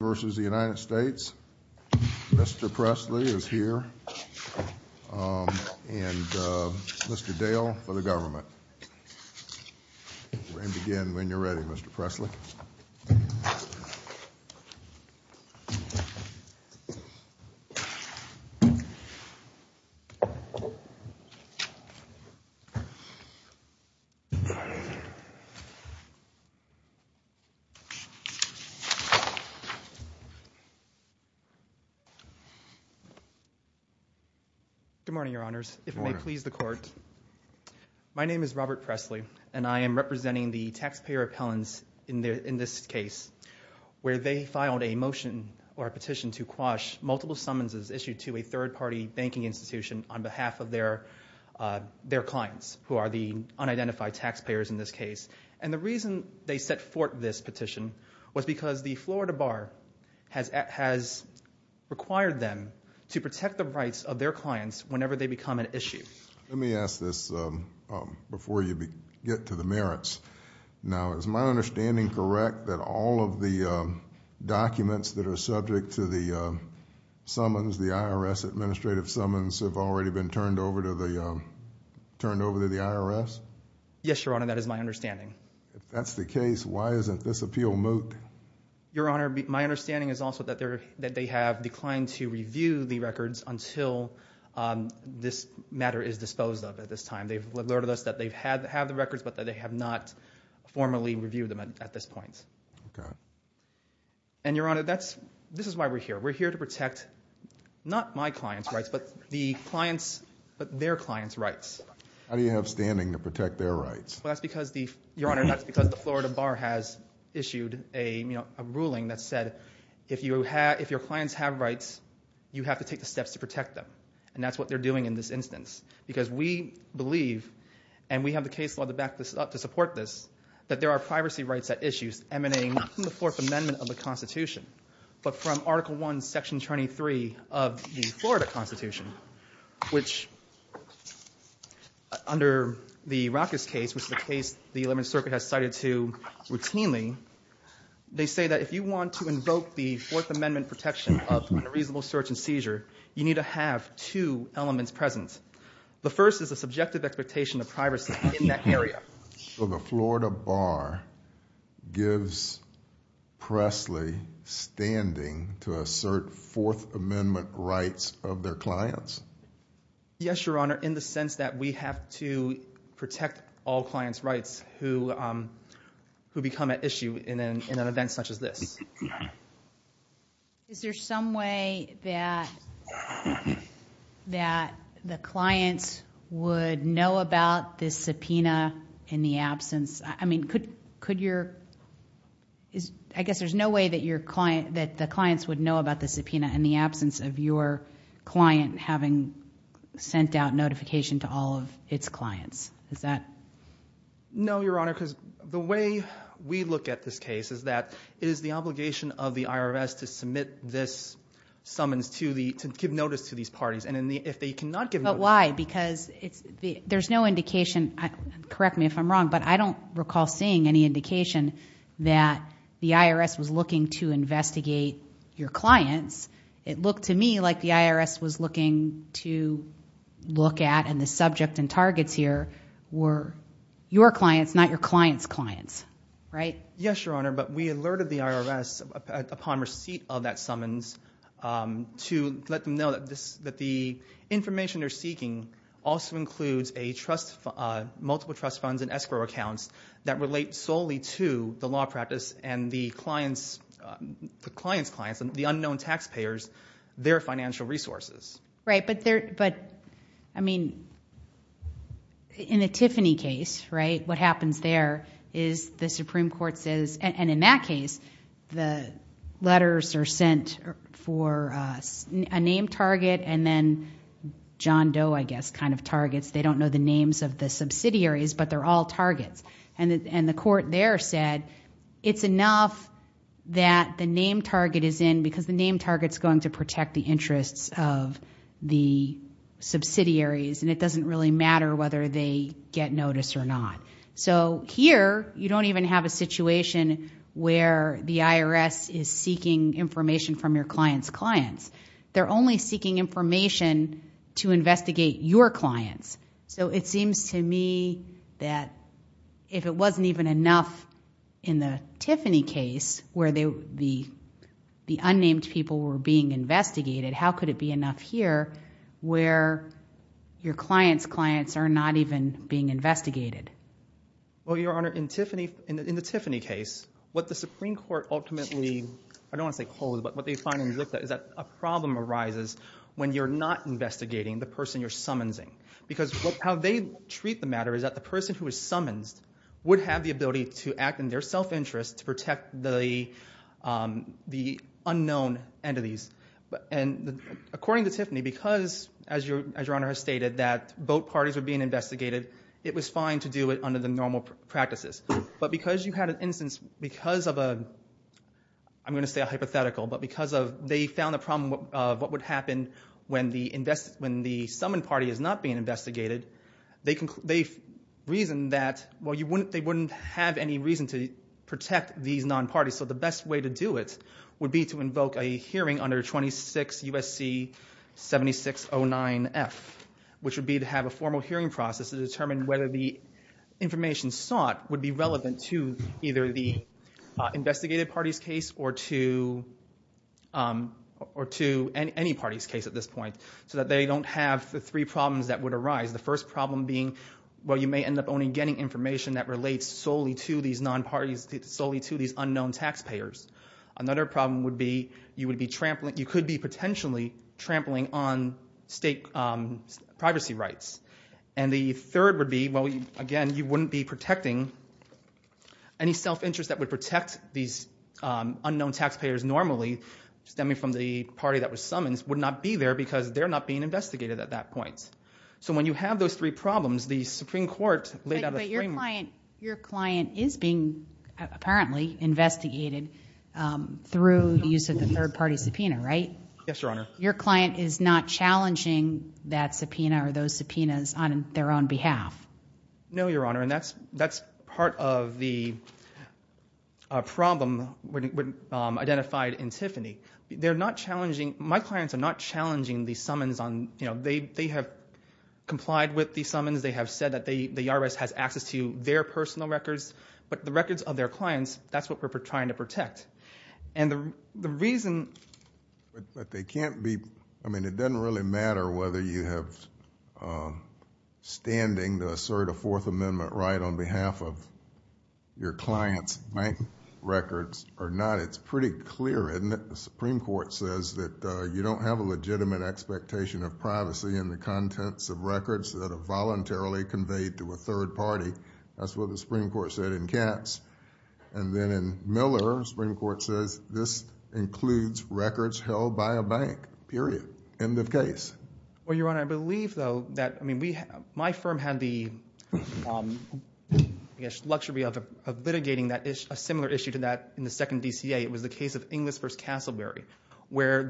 versus the United States. Mr. Presley is here. And Mr. Dale for the government. And again, when you're ready, Mr. Presley. Good morning, your honors. If it may please the court. My name is Robert Presley, and I am representing the taxpayer appellants in this case, where they filed a motion or a petition to quash multiple summonses issued to a third party banking institution on behalf of their clients, who are the unidentified taxpayers in this case. And the reason they set forth this petition was because the Florida Bar has required them to protect the rights of their clients whenever they become an issue. Let me ask this before you get to the merits. Now, is my understanding correct that all of the documents that are subject to the summons, the IRS administrative summons, have already been turned over to the IRS? Yes, your honor. That is my understanding. If that's the case, why isn't this appeal moot? Your honor, my understanding is also that they have declined to review the records until this matter is disposed of at this time. They've alerted us that they have the records, but that they have not formally reviewed them at this point. Okay. And your honor, this is why we're here. We're here to protect, not my clients' rights, but their clients' rights. How do you have standing to protect their rights? Well, that's because the Florida Bar has issued a ruling that said if your clients have rights, you have to take the steps to protect them. And that's what they're doing in this instance. Because we believe, and we have the case law to back this up to support this, that there are privacy rights at issue emanating not from the Fourth Amendment of the Constitution, but from Article I, Section 23 of the Florida Constitution. Which, under the Rackus case, which is a case the Eleventh Circuit has cited to routinely, they say that if you want to invoke the Fourth Amendment protection of unreasonable search and seizure, you need to have two elements present. The first is a subjective expectation of privacy in that area. So the Florida Bar gives Presley standing to assert Fourth Amendment rights of their clients? Yes, your honor, in the sense that we have to protect all clients' rights who become at issue in an event such as this. Is there some way that the clients would know about this subpoena in the absence? I mean, could your, I guess there's no way that the clients would know about the subpoena in the absence of your client having sent out notification to all of its clients. Is that? No, your honor, because the way we look at this case is that it is the obligation of the IRS to submit this summons to the, to give notice to these parties. And if they cannot give notice. But why? Because there's no indication, correct me if I'm wrong, but I don't recall seeing any indication that the IRS was looking to investigate your clients. It looked to me like the IRS was looking to look at, and the subject and targets here were your clients, not your clients' clients, right? Yes, your honor, but we alerted the IRS upon receipt of that summons to let them know that the information they're seeking also includes multiple trust funds and escrow accounts that relate solely to the law practice. And the clients, the clients' clients, the unknown taxpayers, their financial resources. Right, but there, but, I mean, in the Tiffany case, right, what happens there is the Supreme Court says, and in that case, the letters are sent for a name target and then John Doe, I guess, kind of targets. They don't know the names of the subsidiaries, but they're all targets. And the court there said, it's enough that the name target is in because the name target's going to protect the interests of the subsidiaries. And it doesn't really matter whether they get notice or not. So here, you don't even have a situation where the IRS is seeking information from your clients' clients. They're only seeking information to investigate your clients. So it seems to me that if it wasn't even enough in the Tiffany case where the unnamed people were being investigated, how could it be enough here where your clients' clients are not even being investigated? Well, Your Honor, in Tiffany, in the Tiffany case, what the Supreme Court ultimately, I don't want to say holds, but what they finally looked at is that a problem arises when you're not investigating the person you're summonsing. Because how they treat the matter is that the person who is summonsed would have the ability to act in their self-interest to protect the unknown entities. And according to Tiffany, because, as Your Honor has stated, that both parties are being investigated, it was fine to do it under the normal practices. But because you had an instance, because of a, I'm going to say a hypothetical, but because they found a problem of what would happen when the summoned party is not being investigated, they reasoned that, well, they wouldn't have any reason to protect these non-parties. So the best way to do it would be to invoke a hearing under 26 U.S.C. 7609F, which would be to have a formal hearing process to determine whether the information sought would be relevant to either the investigated party's case or to any party's case at this point. So that they don't have the three problems that would arise. The first problem being, well, you may end up only getting information that relates solely to these non-parties, solely to these unknown taxpayers. Another problem would be you would be trampling, you could be potentially trampling on state privacy rights. And the third would be, well, again, you wouldn't be protecting any self-interest that would protect these unknown taxpayers normally, stemming from the party that was summonsed, would not be there because they're not being investigated at that point. So when you have those three problems, the Supreme Court laid out a framework. But your client is being apparently investigated through the use of the third party subpoena, right? Yes, Your Honor. Your client is not challenging that subpoena or those subpoenas on their own behalf? No, Your Honor. And that's part of the problem identified in Tiffany. They're not challenging, my clients are not challenging the summons on, you know, they have complied with the summons. They have said that the IRS has access to their personal records. But the records of their clients, that's what we're trying to protect. And the reason... But they can't be... I mean, it doesn't really matter whether you have standing to assert a Fourth Amendment right on behalf of your client's bank records or not. It's pretty clear, isn't it? The Supreme Court says that you don't have a legitimate expectation of privacy in the contents of records that are voluntarily conveyed to a third party. And then in Miller, the Supreme Court says this includes records held by a bank, period. End of case. Well, Your Honor, I believe, though, that... I mean, my firm had the luxury of litigating a similar issue to that in the second DCA. It was the case of Inglis v. Castleberry, where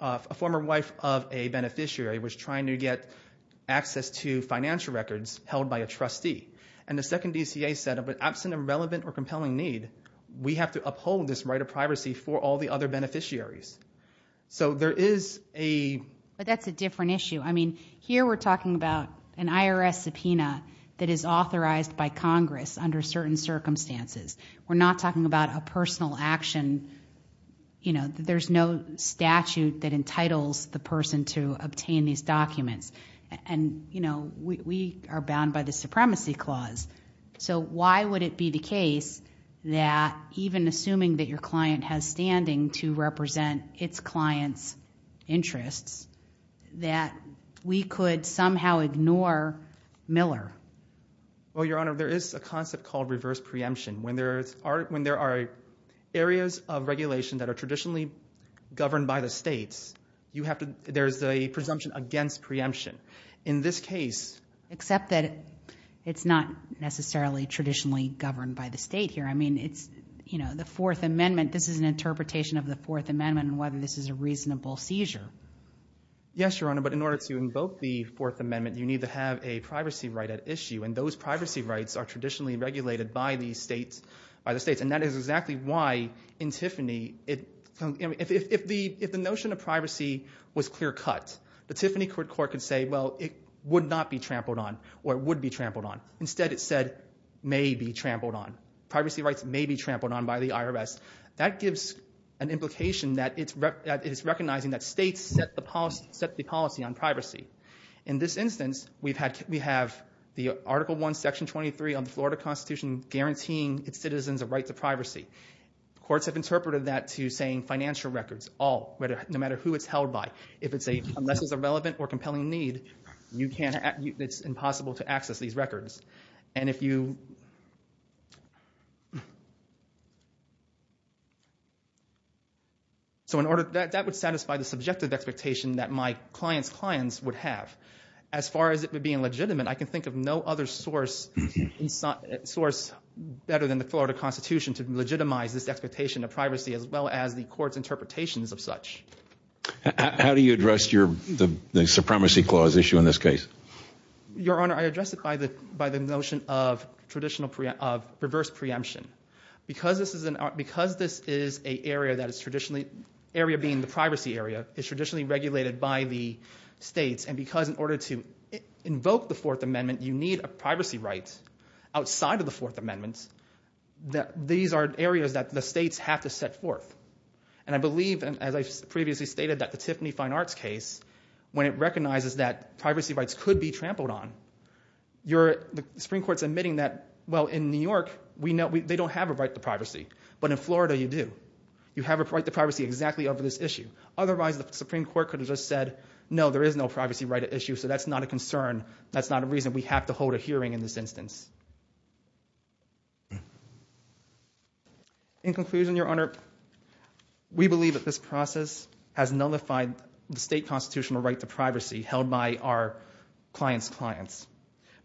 a former wife of a beneficiary was trying to get access to financial records held by a trustee. And the second DCA said, absent of relevant or compelling need, we have to uphold this right of privacy for all the other beneficiaries. So there is a... But that's a different issue. I mean, here we're talking about an IRS subpoena that is authorized by Congress under certain circumstances. We're not talking about a personal action. You know, there's no statute that entitles the person to obtain these documents. And, you know, we are bound by the Supremacy Clause. So why would it be the case that even assuming that your client has standing to represent its client's interests, that we could somehow ignore Miller? Well, Your Honor, there is a concept called reverse preemption. When there are areas of regulation that are traditionally governed by the states, you have to... There's a presumption against preemption. In this case... Except that it's not necessarily traditionally governed by the state here. I mean, it's, you know, the Fourth Amendment. This is an interpretation of the Fourth Amendment and whether this is a reasonable seizure. Yes, Your Honor, but in order to invoke the Fourth Amendment, you need to have a privacy right at issue. And those privacy rights are traditionally regulated by the states. And that is exactly why, in Tiffany, if the notion of privacy was clear-cut, the Tiffany Court could say, well, it would not be trampled on, or it would be trampled on. Instead, it said, may be trampled on. Privacy rights may be trampled on by the IRS. That gives an implication that it's recognizing that states set the policy on privacy. In this instance, we have the Article I, Section 23 of the Florida Constitution guaranteeing its citizens a right to privacy. Courts have interpreted that to saying financial records, all, no matter who it's held by. If it's a... Unless it's a relevant or compelling need, you can't... It's impossible to access these records. And if you... So in order... That would satisfy the subjective expectation that my client's clients would have. As far as it would be illegitimate, I can think of no other source, source better than the Florida Constitution to legitimize this expectation of privacy, as well as the court's interpretations of such. How do you address the supremacy clause issue in this case? Your Honor, I address it by the notion of traditional, of reverse preemption. Because this is an... Because this is an area that is traditionally... Area being the privacy area is traditionally regulated by the states. And because in order to invoke the Fourth Amendment, you need a privacy right outside of the Fourth Amendment, these are areas that the states have to set forth. And I believe, as I previously stated, that the Tiffany Fine Arts case, when it recognizes that privacy rights could be trampled on, the Supreme Court's admitting that, well, in New York, they don't have a right to privacy. But in Florida, you do. You have a right to privacy exactly over this issue. Otherwise, the Supreme Court could have just said, no, there is no privacy right at issue, so that's not a concern. That's not a reason we have to hold a hearing in this instance. In conclusion, Your Honor, we believe that this process has nullified the state constitutional right to privacy held by our clients' clients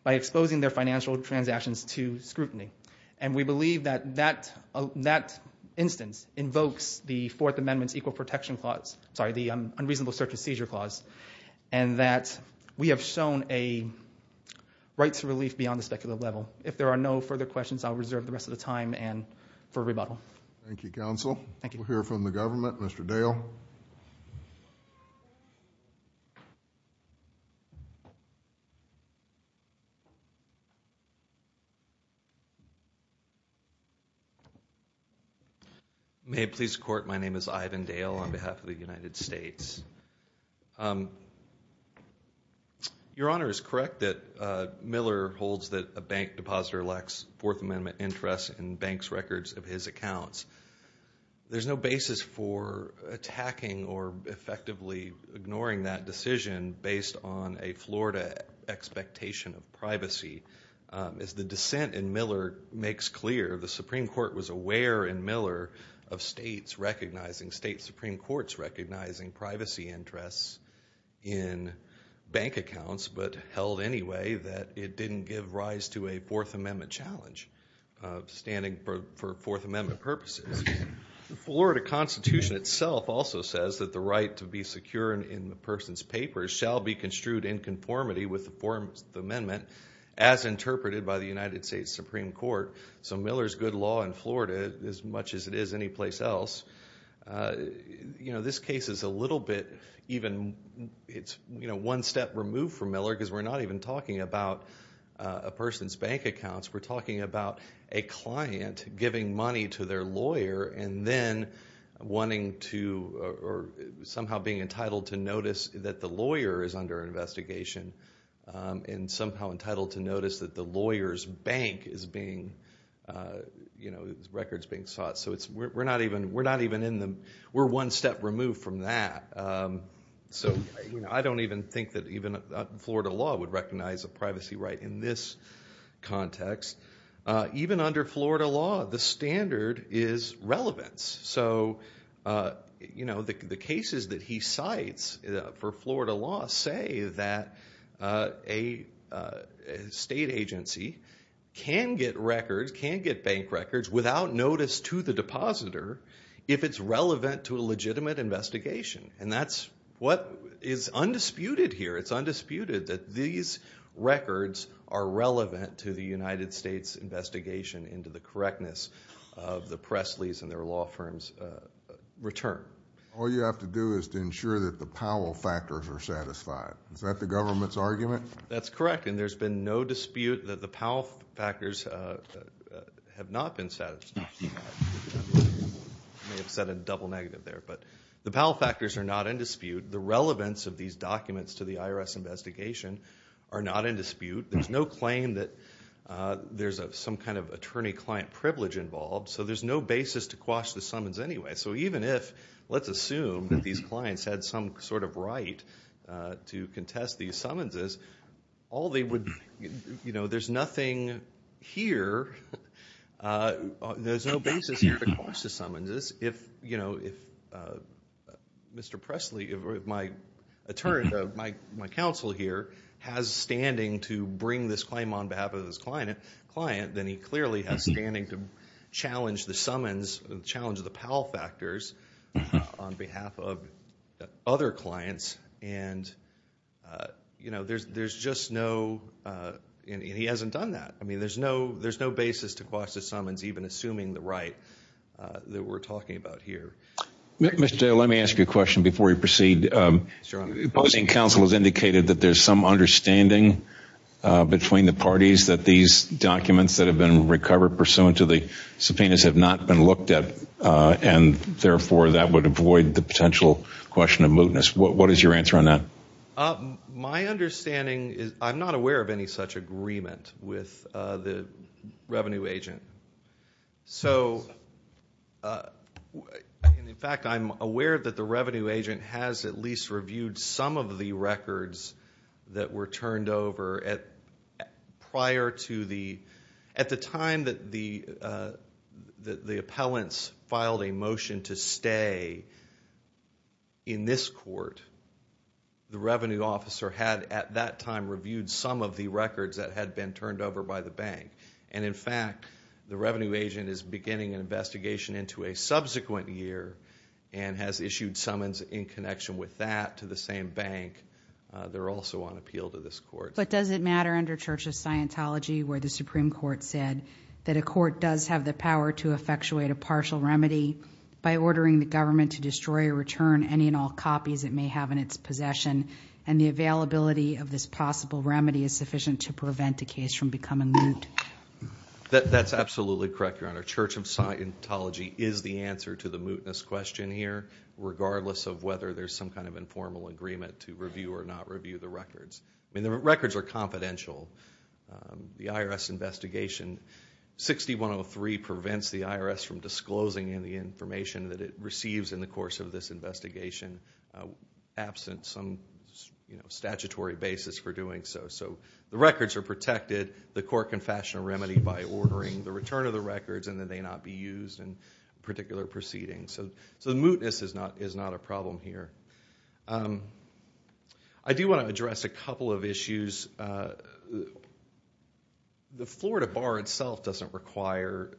by exposing their financial transactions to scrutiny. And we believe that that instance invokes the Fourth Amendment's Equal Protection Clause... Sorry, the Unreasonable Search and Seizure Clause, and that we have shown a right to relief beyond the speculative level. If there are no further questions, I'll reserve the rest of the time for rebuttal. Thank you, counsel. We'll hear from the government. Mr. Dale. May it please the Court, my name is Ivan Dale on behalf of the United States. Your Honor is correct that Miller holds that a bank depositor lacks Fourth Amendment interests in banks' records of his accounts. There's no basis for attacking or effectively ignoring that decision based on a Florida expectation of privacy. As the dissent in Miller makes clear, the Supreme Court was aware in Miller of state Supreme Courts recognizing privacy interests in bank accounts, but held anyway that it didn't give rise to a Fourth Amendment challenge. Standing for Fourth Amendment purposes. The Florida Constitution itself also says that the right to be secure in a person's papers shall be construed in conformity with the Fourth Amendment as interpreted by the United States Supreme Court. So Miller's good law in Florida, as much as it is anyplace else, this case is a little bit even one step removed from Miller because we're not even talking about a person's bank accounts. We're talking about a client giving money to their lawyer and then wanting to, or somehow being entitled to notice that the lawyer is under investigation and somehow entitled to notice that the lawyer's bank is being, you know, records being sought. So we're not even in the, we're one step removed from that. So I don't even think that even Florida law would recognize a privacy right in this context. Even under Florida law, the standard is relevance. So, you know, the cases that he cites for Florida law say that a state agency can get records, can get bank records without notice to the depositor if it's relevant to a legitimate investigation. And that's what is undisputed here. It's undisputed that these records are relevant to the United States investigation into the correctness of the Pressley's and their law firm's return. All you have to do is to ensure that the Powell factors are satisfied. Is that the government's argument? That's correct. And there's been no dispute that the Powell factors have not been satisfied. I may have said a double negative there. But the Powell factors are not in dispute. The relevance of these documents to the IRS investigation are not in dispute. There's no claim that there's some kind of attorney-client privilege involved. So there's no basis to quash the summons anyway. So even if, let's assume that these clients had some sort of right to contest these summonses, all they would, you know, there's nothing here, there's no basis here to quash the summonses if, you know, if Mr. Pressley, my counsel here, has standing to bring this claim on behalf of this client, then he clearly has standing to challenge the summons, challenge the Powell factors on behalf of other clients. And, you know, there's just no, and he hasn't done that. I mean, there's no basis to quash the summons even assuming the right that we're talking about here. Mr. Dale, let me ask you a question before we proceed. Yes, Your Honor. Opposing counsel has indicated that there's some understanding between the parties that these documents that have been recovered pursuant to the subpoenas have not been looked at, and therefore that would avoid the potential question of mootness. What is your answer on that? My understanding is I'm not aware of any such agreement with the revenue agent. So, in fact, I'm aware that the revenue agent has at least reviewed some of the records that were turned over prior to the, at the time that the appellants filed a motion to stay in this court, the revenue officer had at that time reviewed some of the records that had been turned over by the bank. And, in fact, the revenue agent is beginning an investigation into a subsequent year and has issued summons in connection with that to the same bank. They're also on appeal to this court. But does it matter under Church of Scientology where the Supreme Court said that a court does have the power to effectuate a partial remedy by ordering the government to destroy or return any and all copies it may have in its possession and the availability of this possible remedy is sufficient to prevent a case from becoming moot? That's absolutely correct, Your Honor. Church of Scientology is the answer to the mootness question here, regardless of whether there's some kind of informal agreement to review or not review the records. I mean, the records are confidential. The IRS investigation 6103 prevents the IRS from disclosing any information that it receives in the course of this investigation, absent some statutory basis for doing so. So the records are protected. The court can fashion a remedy by ordering the return of the records and that they not be used in a particular proceeding. So the mootness is not a problem here. I do want to address a couple of issues. The Florida Bar itself doesn't require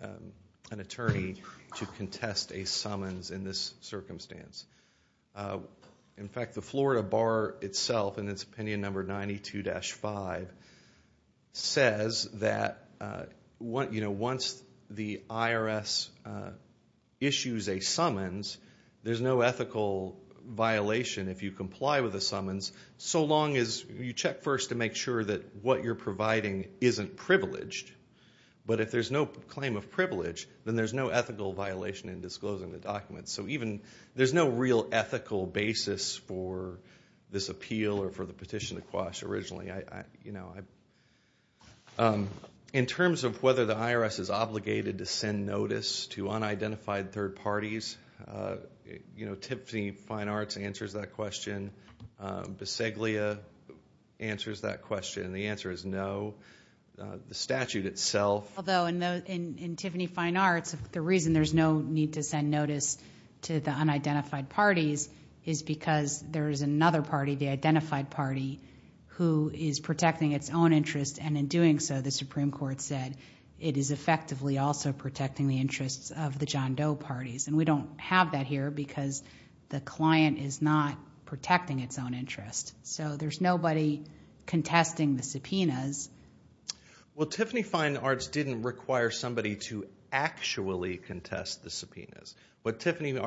an attorney to contest a summons in this circumstance. In fact, the Florida Bar itself, in its opinion number 92-5, says that once the IRS issues a summons, there's no ethical violation if you comply with a summons, so long as you check first to make sure that what you're providing isn't privileged. But if there's no claim of privilege, then there's no ethical violation in disclosing the documents. So there's no real ethical basis for this appeal or for the petition to quash originally. In terms of whether the IRS is obligated to send notice to unidentified third parties, Tiffany Fine Arts answers that question. Bisaglia answers that question. The answer is no. The statute itself. Although in Tiffany Fine Arts, the reason there's no need to send notice to the unidentified parties is because there is another party, the identified party, who is protecting its own interest. And in doing so, the Supreme Court said it is effectively also protecting the interests of the John Doe parties. And we don't have that here because the client is not protecting its own interest. So there's nobody contesting the subpoenas. Well, Tiffany Fine Arts didn't require somebody to actually contest the subpoenas. What Tiffany Fine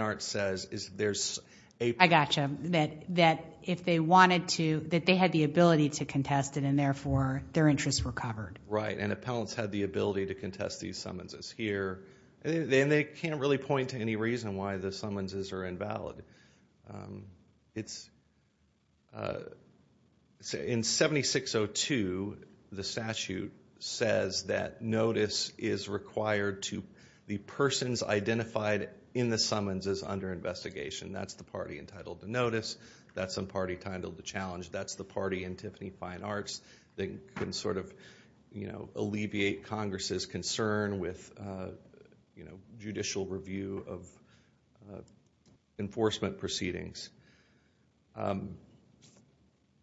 Arts says is there's a- I got you, that if they wanted to, that they had the ability to contest it and, therefore, their interests were covered. Right, and appellants had the ability to contest these summonses here. And they can't really point to any reason why the summonses are invalid. It's-in 7602, the statute says that notice is required to the persons identified in the summonses under investigation. That's the party entitled to notice. That's the party entitled to challenge. That's the party in Tiffany Fine Arts that can sort of alleviate Congress's concern with, you know, judicial review of enforcement proceedings.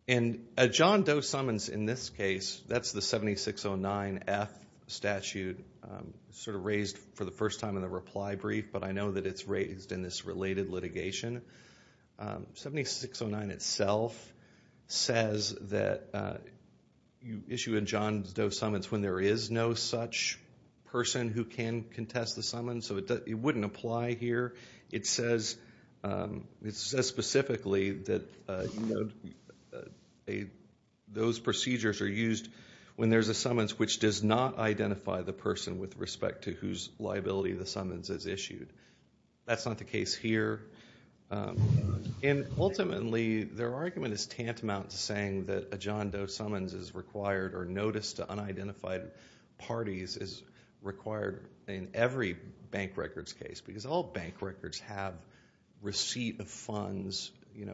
And a John Doe summons in this case, that's the 7609F statute sort of raised for the first time in the reply brief. But I know that it's raised in this related litigation. 7609 itself says that you issue a John Doe summons when there is no such person who can contest the summons. So it wouldn't apply here. It says specifically that those procedures are used when there's a summons which does not identify the person with respect to whose liability the summons is issued. That's not the case here. And ultimately, their argument is tantamount to saying that a John Doe summons is required or notice to unidentified parties is required in every bank records case. Because all bank records have receipt of funds. You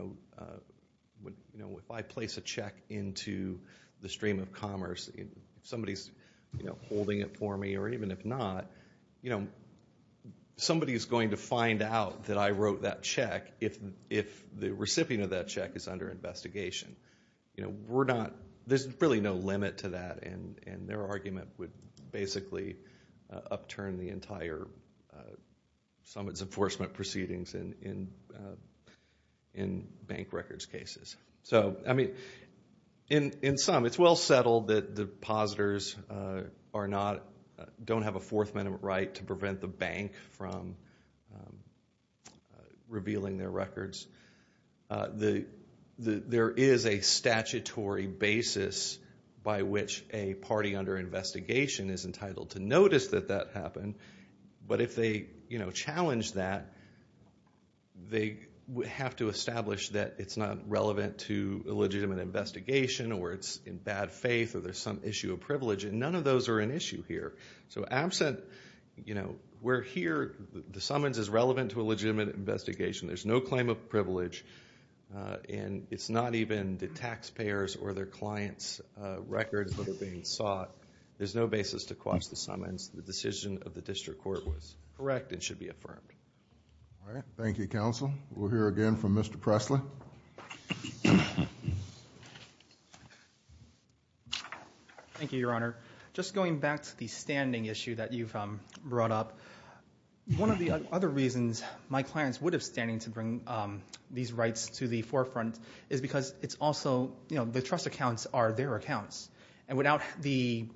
know, if I place a check into the stream of commerce, somebody's holding it for me or even if not, you know, somebody's going to find out that I wrote that check if the recipient of that check is under investigation. You know, we're not, there's really no limit to that. And their argument would basically upturn the entire summons enforcement proceedings in bank records cases. So, I mean, in sum, it's well settled that depositors are not, don't have a fourth amendment right to prevent the bank from revealing their records. There is a statutory basis by which a party under investigation is entitled to notice that that happened. But if they, you know, challenge that, they have to establish that it's not relevant to a legitimate investigation or it's in bad faith or there's some issue of privilege. And none of those are an issue here. So absent, you know, we're here, the summons is relevant to a legitimate investigation. There's no claim of privilege. And it's not even the taxpayers' or their clients' records that are being sought. There's no basis to quash the summons. The decision of the district court was correct and should be affirmed. All right. Thank you, Counsel. We'll hear again from Mr. Presley. Thank you, Your Honor. Just going back to the standing issue that you've brought up, one of the other reasons my clients would have standing to bring these rights to the forefront is because it's also, you know, the trust accounts are their accounts. And without the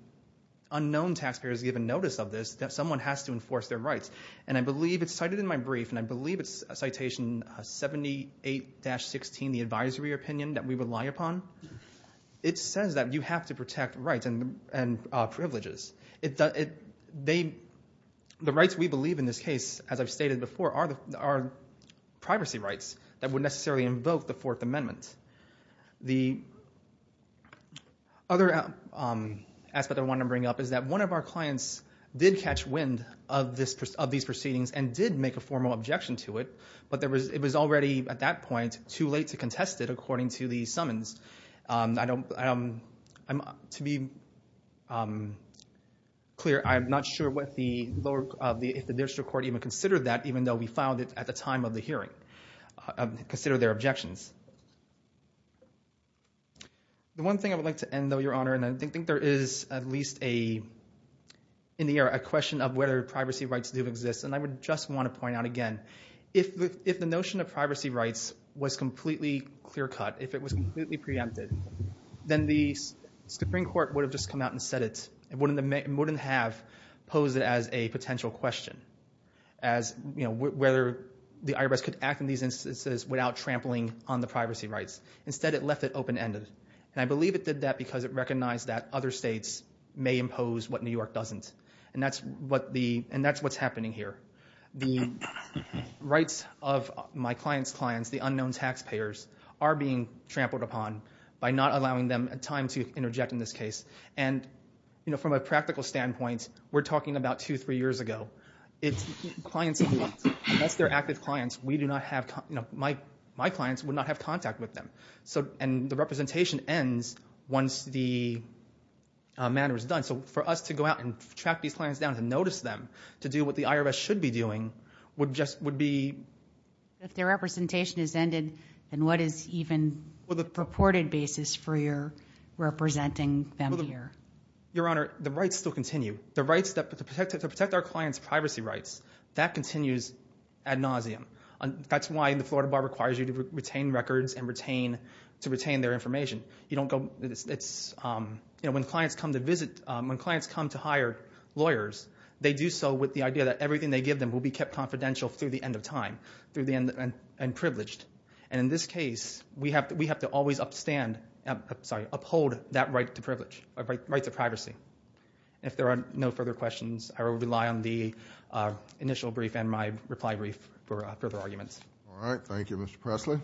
unknown taxpayers' given notice of this, someone has to enforce their rights. And I believe it's cited in my brief, and I believe it's citation 78-16, the advisory opinion that we rely upon. It says that you have to protect rights and privileges. The rights we believe in this case, as I've stated before, are privacy rights that would necessarily invoke the Fourth Amendment. The other aspect I want to bring up is that one of our clients did catch wind of these proceedings and did make a formal objection to it, but it was already at that point too late to contest it, according to the summons. To be clear, I'm not sure if the district court even considered that, The one thing I would like to end, though, Your Honor, and I think there is at least in the air a question of whether privacy rights do exist, and I would just want to point out again, if the notion of privacy rights was completely clear cut, if it was completely preempted, then the Supreme Court would have just come out and said it, and wouldn't have posed it as a potential question, whether the IRS could act in these instances without trampling on the privacy rights. Instead, it left it open-ended, and I believe it did that because it recognized that other states may impose what New York doesn't, and that's what's happening here. The rights of my client's clients, the unknown taxpayers, are being trampled upon by not allowing them time to interject in this case, and, you know, from a practical standpoint, we're talking about two, three years ago. Clients, unless they're active clients, we do not have, you know, my clients would not have contact with them, and the representation ends once the matter is done. So for us to go out and track these clients down and notice them, to do what the IRS should be doing, would just, would be. If their representation has ended, then what is even the purported basis for your representing them here? Your Honor, the rights still continue. The rights to protect our clients' privacy rights, that continues ad nauseum. That's why the Florida Bar requires you to retain records and to retain their information. You don't go, it's, you know, when clients come to visit, when clients come to hire lawyers, they do so with the idea that everything they give them will be kept confidential through the end of time, through the end, and privileged. And in this case, we have to always upstand, sorry, uphold that right to privilege, right to privacy. If there are no further questions, I will rely on the initial brief and my reply brief for further arguments. All right. Thank you, Mr. Presley.